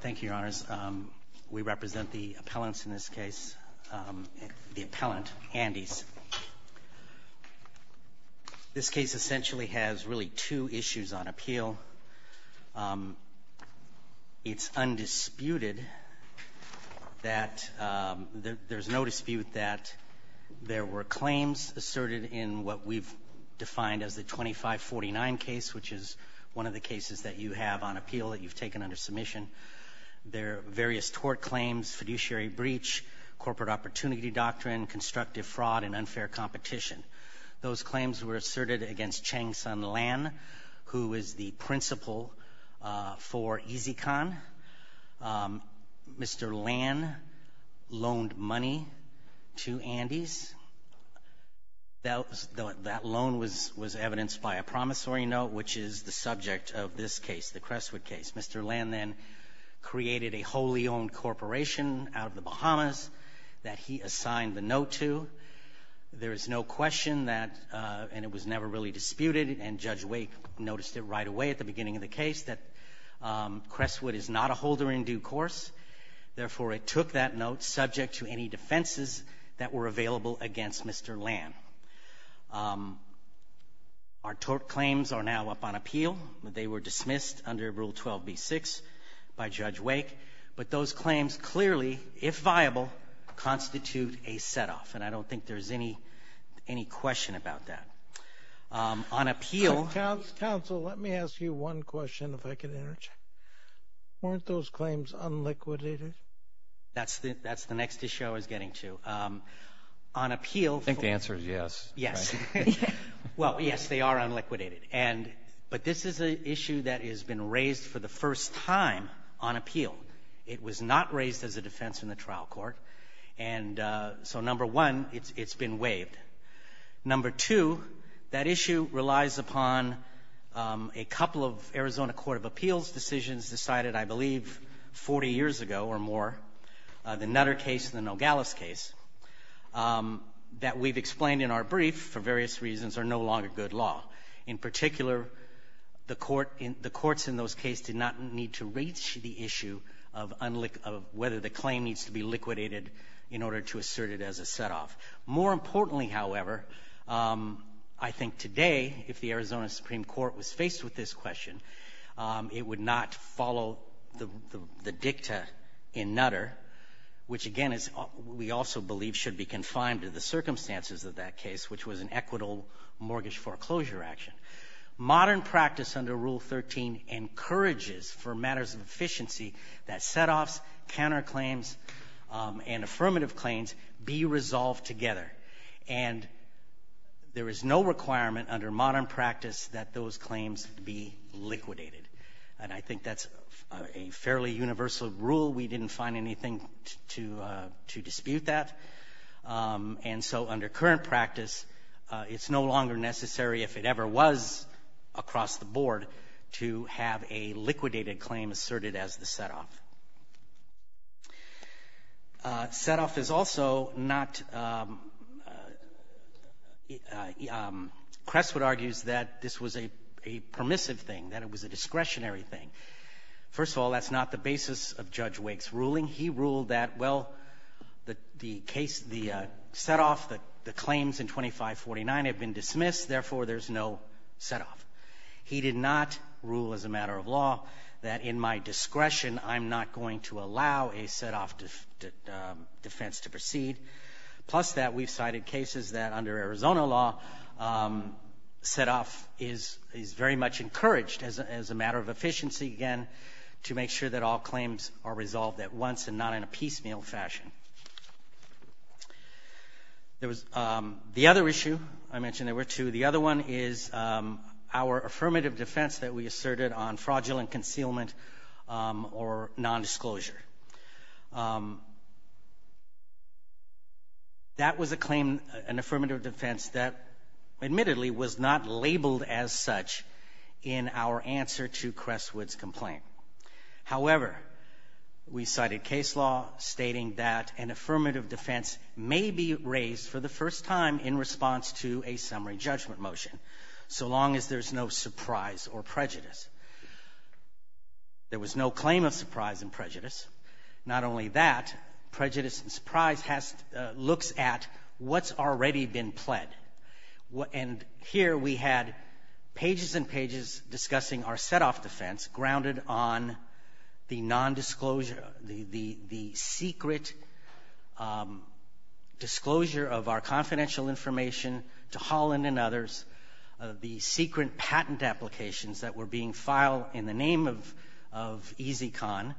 Thank you, Your Honors. We represent the appellants in this case, the appellant, Andes. This case essentially has really two issues on appeal. It's undisputed that there's no dispute that there were claims asserted in what we've defined as the 2549 case, which is one of the cases that you have on appeal that you've taken under submission. There are various tort claims, fiduciary breach, corporate opportunity doctrine, constructive fraud, and unfair competition. Those claims were asserted against Chang-Sun Lan, who is the principal for EasyCon. Mr. Lan loaned money to Andes. That loan was evidenced by a promissory note, which is the subject of this case, the Crestwood case. Mr. Lan then created a wholly owned corporation out of the Bahamas that he assigned the note to. There is no question that, and it was never really disputed, and Judge Wake noticed it right away at the beginning of the case, that Crestwood is not a holder in due course. Therefore, it took that note subject to any defenses that were available against Mr. Lan. Our tort claims are now up on appeal. They were dismissed under Rule 12b-6 by Judge Wake. But those claims clearly, if viable, constitute a setoff, and I don't think there's any question about that. On appeal — Counsel, let me ask you one question, if I can interject. Weren't those claims unliquidated? That's the next issue I was getting to. On appeal — I think the answer is yes. Yes. Well, yes, they are unliquidated. But this is an issue that has been raised for the first time on appeal. It was not raised as a defense in the trial court. And so, number one, it's been waived. Number two, that issue relies upon a couple of Arizona Court of Appeals decisions decided, I believe, 40 years ago or more, the Nutter case and the Nogales case, that we've explained in our brief, for various reasons, are no longer good law. In particular, the courts in those cases did not need to reach the issue of whether the claim needs to be liquidated in order to assert it as a setoff. More importantly, however, I think today, if the Arizona Supreme Court was faced with this question, it would not follow the dicta in Nutter, which, again, we also believe should be confined to the circumstances of that case, which was an equitable mortgage foreclosure action. Modern practice under Rule 13 encourages, for matters of efficiency, that setoffs, counterclaims, and affirmative claims be resolved together. And there is no requirement under modern practice that those claims be liquidated. And I think that's a fairly universal rule. We didn't find anything to dispute that. And so under current practice, it's no longer necessary, if it ever was across the board, to have a liquidated claim asserted as the setoff. Setoff is also not — Crestwood argues that this was a permissive thing, that it was a discretionary thing. First of all, that's not the basis of Judge Wake's ruling. He ruled that, well, the case, the setoff, the claims in 2549 have been dismissed. Therefore, there's no setoff. He did not rule as a matter of law that, in my discretion, I'm not going to allow a setoff defense to proceed. Plus that, we've cited cases that, under Arizona law, setoff is very much encouraged as a matter of efficiency, again, to make sure that all claims are resolved at once and not in a piecemeal fashion. There was the other issue. I mentioned there were two. The other one is our affirmative defense that we asserted on fraudulent concealment or nondisclosure. That was a claim, an affirmative defense, that admittedly was not labeled as such in our answer to Crestwood's complaint. However, we cited case law stating that an affirmative defense may be raised for the first time in response to a summary judgment motion, so long as there's no surprise or prejudice. There was no claim of surprise and prejudice. Not only that, prejudice and surprise has to look at what's already been pled. And here we had pages and pages discussing our setoff defense grounded on the nondisclosure, the secret disclosure of our confidential information to Holland and others, the secret patent applications that were being filed in the name of Easy Con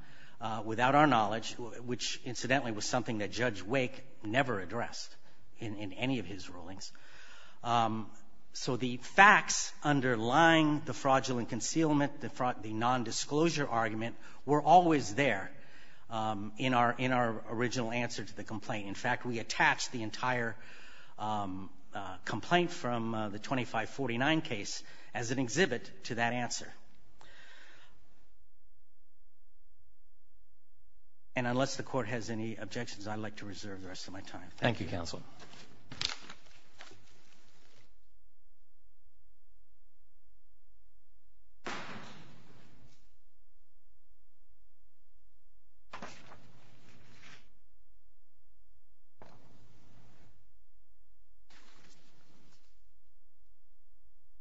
without our knowledge, which, incidentally, was something that Judge Wake never addressed in any of his rulings. So the facts underlying the fraudulent concealment, the nondisclosure argument, were always there in our original answer to the complaint. In fact, we attached the entire complaint from the 2549 case as an exhibit to that answer. And unless the Court has any objections, I'd like to reserve the rest of my time. Thank you, Counsel.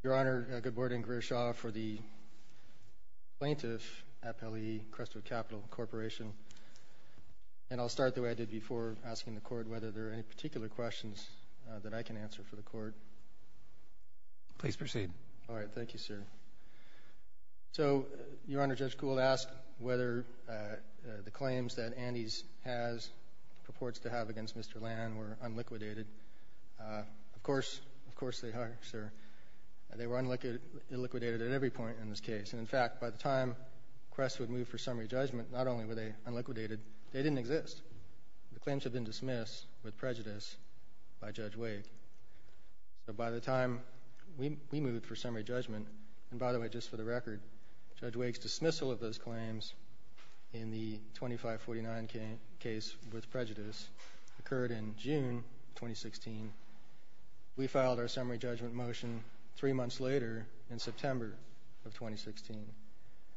Your Honor, good morning. Greer Shaw for the Plaintiff Appellee, Crestwood Capital Corporation. And I'll start the way I did before asking the Court whether there are any particular questions that I can answer for the Court. Please proceed. All right. Thank you, sir. So, Your Honor, Judge Gould asked whether the claims that Andes has, purports to have against Mr. Land were unliquidated. Of course, of course they are, sir. They were unliquidated at every point in this case. And in fact, by the time Crestwood moved for summary judgment, not only were they unliquidated, they didn't exist. The claims had been dismissed with prejudice by Judge Waig. So by the time we moved for summary judgment, and by the way, just for the record, Judge Waig's dismissal of those claims in the 2549 case with prejudice occurred in June 2016. We filed our summary judgment motion three months later in September of 2016.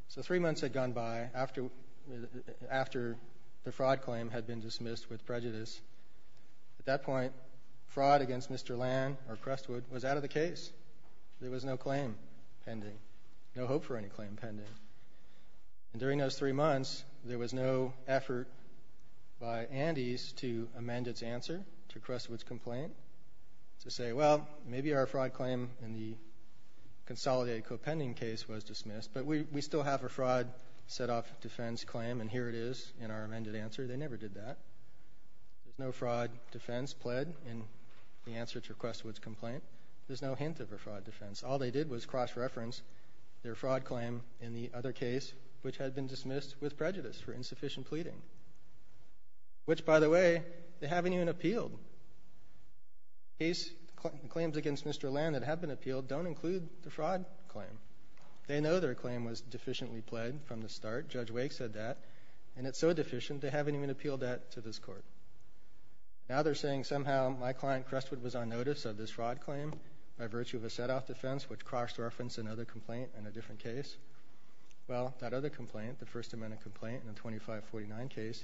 So three months had gone by after the fraud claim had been dismissed with prejudice. At that point, fraud against Mr. Land or Crestwood was out of the case. There was no claim pending, no hope for any claim pending. And during those three months, there was no effort by Andes to amend its answer to Crestwood's complaint to say, well, maybe our fraud claim in the consolidated co-pending case was dismissed, but we still have a fraud set-off defense claim, and here it is in our amended answer. They never did that. There's no fraud defense pled in the answer to Crestwood's complaint. There's no hint of a fraud defense. All they did was cross-reference their fraud claim in the other case, which had been dismissed with prejudice for insufficient pleading, which, by the way, they haven't even appealed. Claims against Mr. Land that have been appealed don't include the fraud claim. They know their claim was deficiently pled from the start. Judge Wake said that. And it's so deficient, they haven't even appealed that to this Court. Now they're saying somehow my client Crestwood was on notice of this fraud claim by virtue of a set-off defense, which cross-referenced another complaint in a different case. Well, that other complaint, the First Amendment complaint in the 2549 case,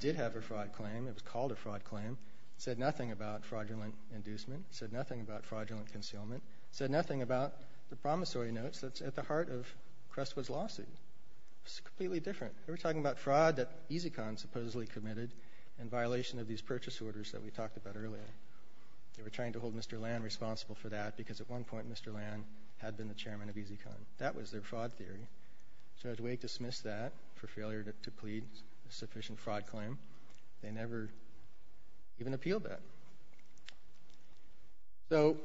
did have a fraud claim. It was called a fraud claim. It said nothing about fraudulent inducement. It said nothing about fraudulent concealment. It said nothing about the promissory notes that's at the heart of Crestwood's lawsuit. It's completely different. They were talking about fraud that EZCon supposedly committed in violation of these purchase orders that we talked about earlier. They were trying to hold Mr. Land responsible for that because at one point, Mr. Land had been the chairman of EZCon. That was their fraud theory. Judge Wake dismissed that for failure to plead a sufficient fraud claim. They never even appealed that. So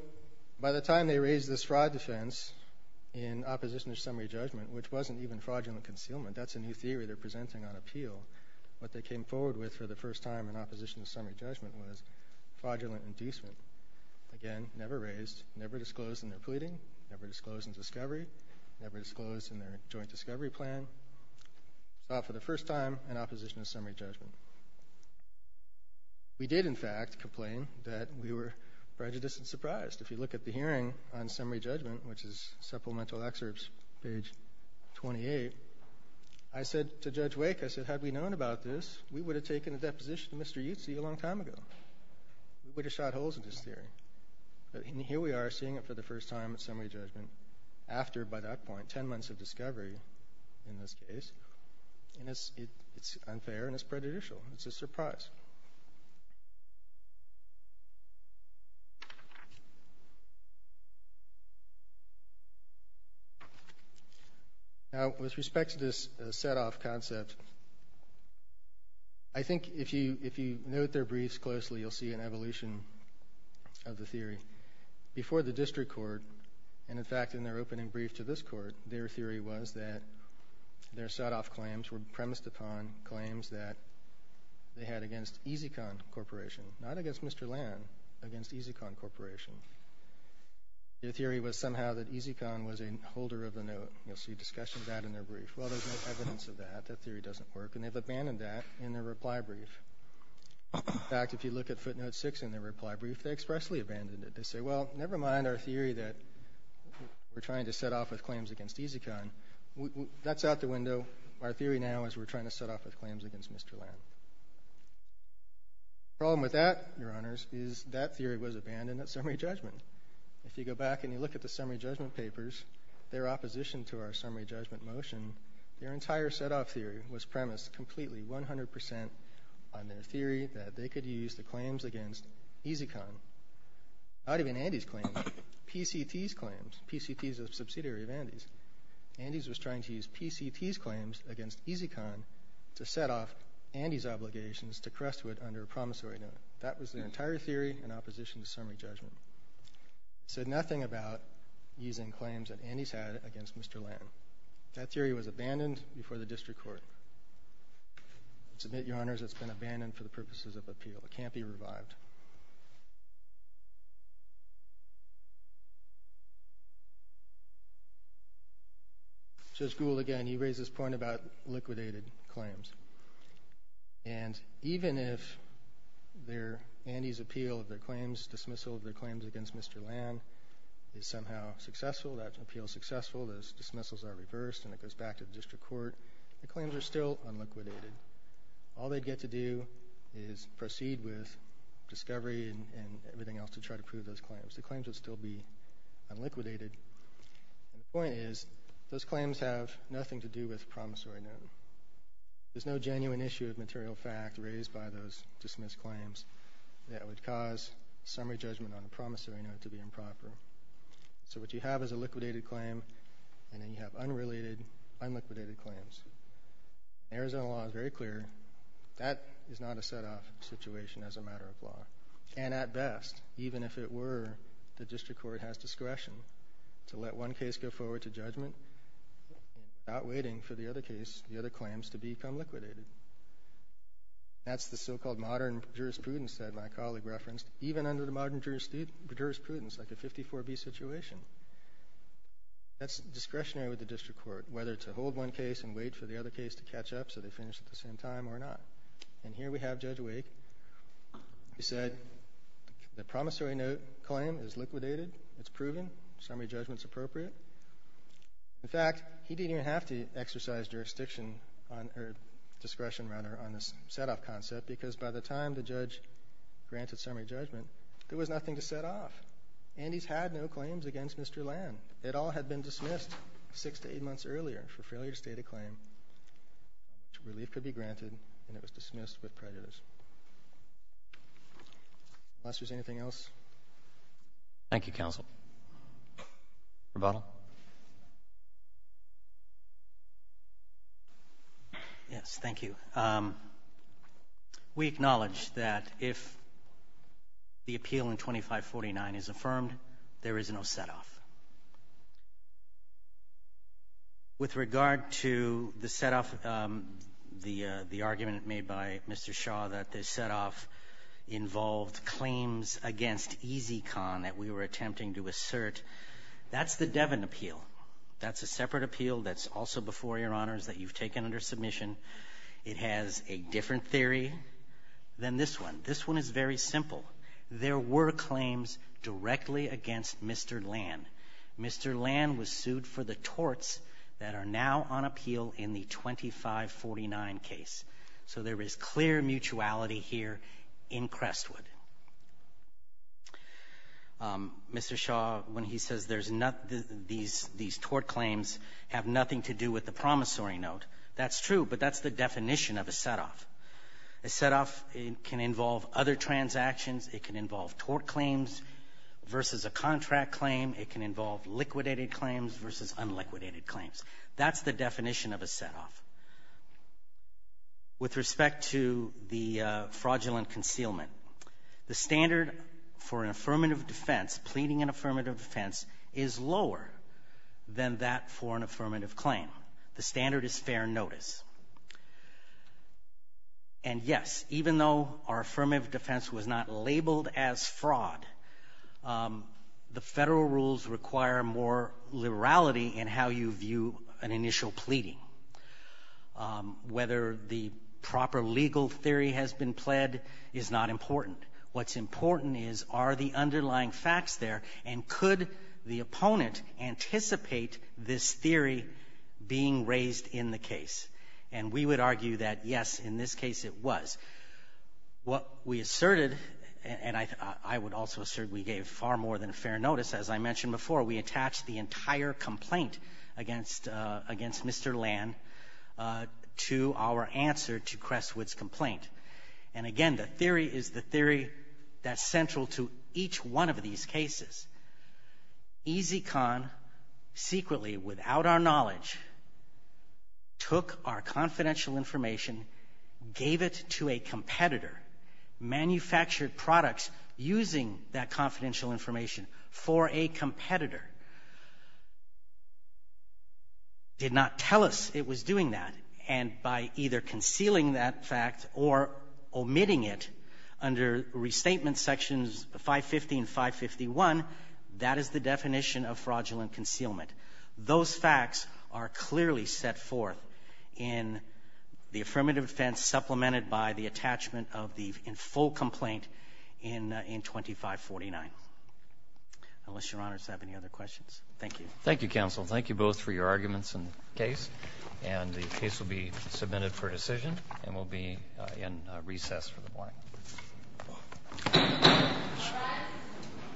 by the time they raised this fraud defense in opposition to summary judgment, which wasn't even fraudulent concealment, that's a new theory they're presenting on appeal. What they came forward with for the first time in opposition to summary judgment was fraudulent inducement. Again, never raised, never disclosed in their pleading, never disclosed in their joint discovery plan. Saw it for the first time in opposition to summary judgment. We did, in fact, complain that we were prejudiced and surprised. If you look at the hearing on summary judgment, which is supplemental excerpts, page 28, I said to Judge Wake, I said, had we known about this, we would have taken a deposition of Mr. Utsi a long time ago. We would have shot holes in this theory. And here we are seeing it for the first time in summary judgment after, by that point, 10 months of discovery in this case. And it's unfair and it's prejudicial. It's a surprise. Now, with respect to this set-off concept, I think if you note their briefs closely, you'll see an evolution of the theory. Before the district court, and, in fact, in their opening brief to this court, their theory was that their set-off claims were premised upon claims that they had against EZCon Corporation, not against Mr. Lann, against EZCon Corporation. Their theory was somehow that EZCon was a holder of the note. You'll see discussion of that in their brief. Well, there's no evidence of that. That theory doesn't work. And they've abandoned that in their reply brief. In fact, if you look at footnote 6 in their reply brief, they expressly abandoned it. They say, well, never mind our theory that we're trying to set off with claims against EZCon. That's out the window. Our theory now is we're trying to set off with claims against Mr. Lann. The problem with that, Your Honors, is that theory was abandoned at summary judgment. If you go back and you look at the summary judgment papers, their opposition to our summary judgment motion, their entire set-off theory was premised completely 100 percent on their theory that they could use the claims against EZCon, not even Andy's claims, PCT's claims. PCT is a subsidiary of Andy's. Andy's was trying to use PCT's claims against EZCon to set off Andy's obligations to Crestwood under a promissory note. That was their entire theory in opposition to summary judgment. It said nothing about using claims that Andy's had against Mr. Lann. So that theory was abandoned before the district court. I submit, Your Honors, it's been abandoned for the purposes of appeal. It can't be revived. Judge Gould, again, he raised this point about liquidated claims. And even if Andy's appeal of their claims, dismissal of their claims against Mr. Lann, is somehow successful, that appeal is successful, those dismissals are reversed and it goes back to the district court, the claims are still unliquidated. All they'd get to do is proceed with discovery and everything else to try to prove those claims. The claims would still be unliquidated. And the point is, those claims have nothing to do with promissory note. There's no genuine issue of material fact raised by those dismissed claims that would cause summary judgment on a promissory note to be improper. So what you have is a liquidated claim and then you have unrelated, unliquidated claims. Arizona law is very clear, that is not a set-off situation as a matter of law. And at best, even if it were, the district court has discretion to let one case go forward to judgment without waiting for the other case, the other claims, to become liquidated. That's the so-called modern jurisprudence that my colleague referenced. Even under the modern jurisprudence, like a 54B situation, that's discretionary with the district court, whether to hold one case and wait for the other case to catch up so they finish at the same time or not. And here we have Judge Wake. He said the promissory note claim is liquidated, it's proven, summary judgment's appropriate. In fact, he didn't even have to exercise jurisdiction or discretion rather on this set-off concept because by the time the judge granted summary judgment, there was nothing to set off and he's had no claims against Mr. Land. It all had been dismissed six to eight months earlier for failure to state a claim which relief could be granted and it was dismissed with prejudice. Unless there's anything else. Thank you, counsel. Roboto. Yes, thank you. We acknowledge that if the appeal in 2549 is affirmed, there is no set-off. With regard to the set-off, the argument made by Mr. Shaw that the set-off involved claims against EZCon that we were attempting to assert, that's the Devin appeal. That's a separate appeal that's also before Your Honors that you've taken under submission. It has a different theory than this one. This one is very simple. There were claims directly against Mr. Land. Mr. Land was sued for the torts that are now on appeal in the 2549 case. So there is clear mutuality here in Crestwood. Mr. Shaw, when he says there's not these tort claims have nothing to do with the promissory note, that's true, but that's the definition of a set-off. A set-off can involve other transactions. It can involve tort claims versus a contract claim. It can involve liquidated claims versus unliquidated claims. That's the definition of a set-off. With respect to the fraudulent concealment, the standard for an affirmative defense, pleading an affirmative defense, is lower than that for an affirmative claim. The standard is fair notice. And yes, even though our affirmative defense was not labeled as fraud, the Federal rules require more liberality in how you view an initial pleading. Whether the proper legal theory has been pled is not important. What's important is are the underlying facts there, and could the opponent anticipate this theory being raised in the case. And we would argue that, yes, in this case it was. What we asserted, and I would also assert we gave far more than fair notice, as I mentioned before, we attached the entire complaint against Mr. Lann to our answer to Crestwood's complaint. And again, the theory is the theory that's central to each one of these cases. EZCon, secretly, without our knowledge, took our confidential information, gave it to a competitor, manufactured products using that confidential information for a competitor, did not tell us it was doing that, and by either concealing that fact or omitting it under Restatement Sections 550 and 551, that is the definition of fraudulent concealment. Those facts are clearly set forth in the affirmative defense supplemented by the attachment of the full complaint in 2549. Unless Your Honor has any other questions. Thank you. Thank you, counsel. Thank you both for your arguments in the case. And the case will be submitted for decision and will be in recess for the morning. All rise.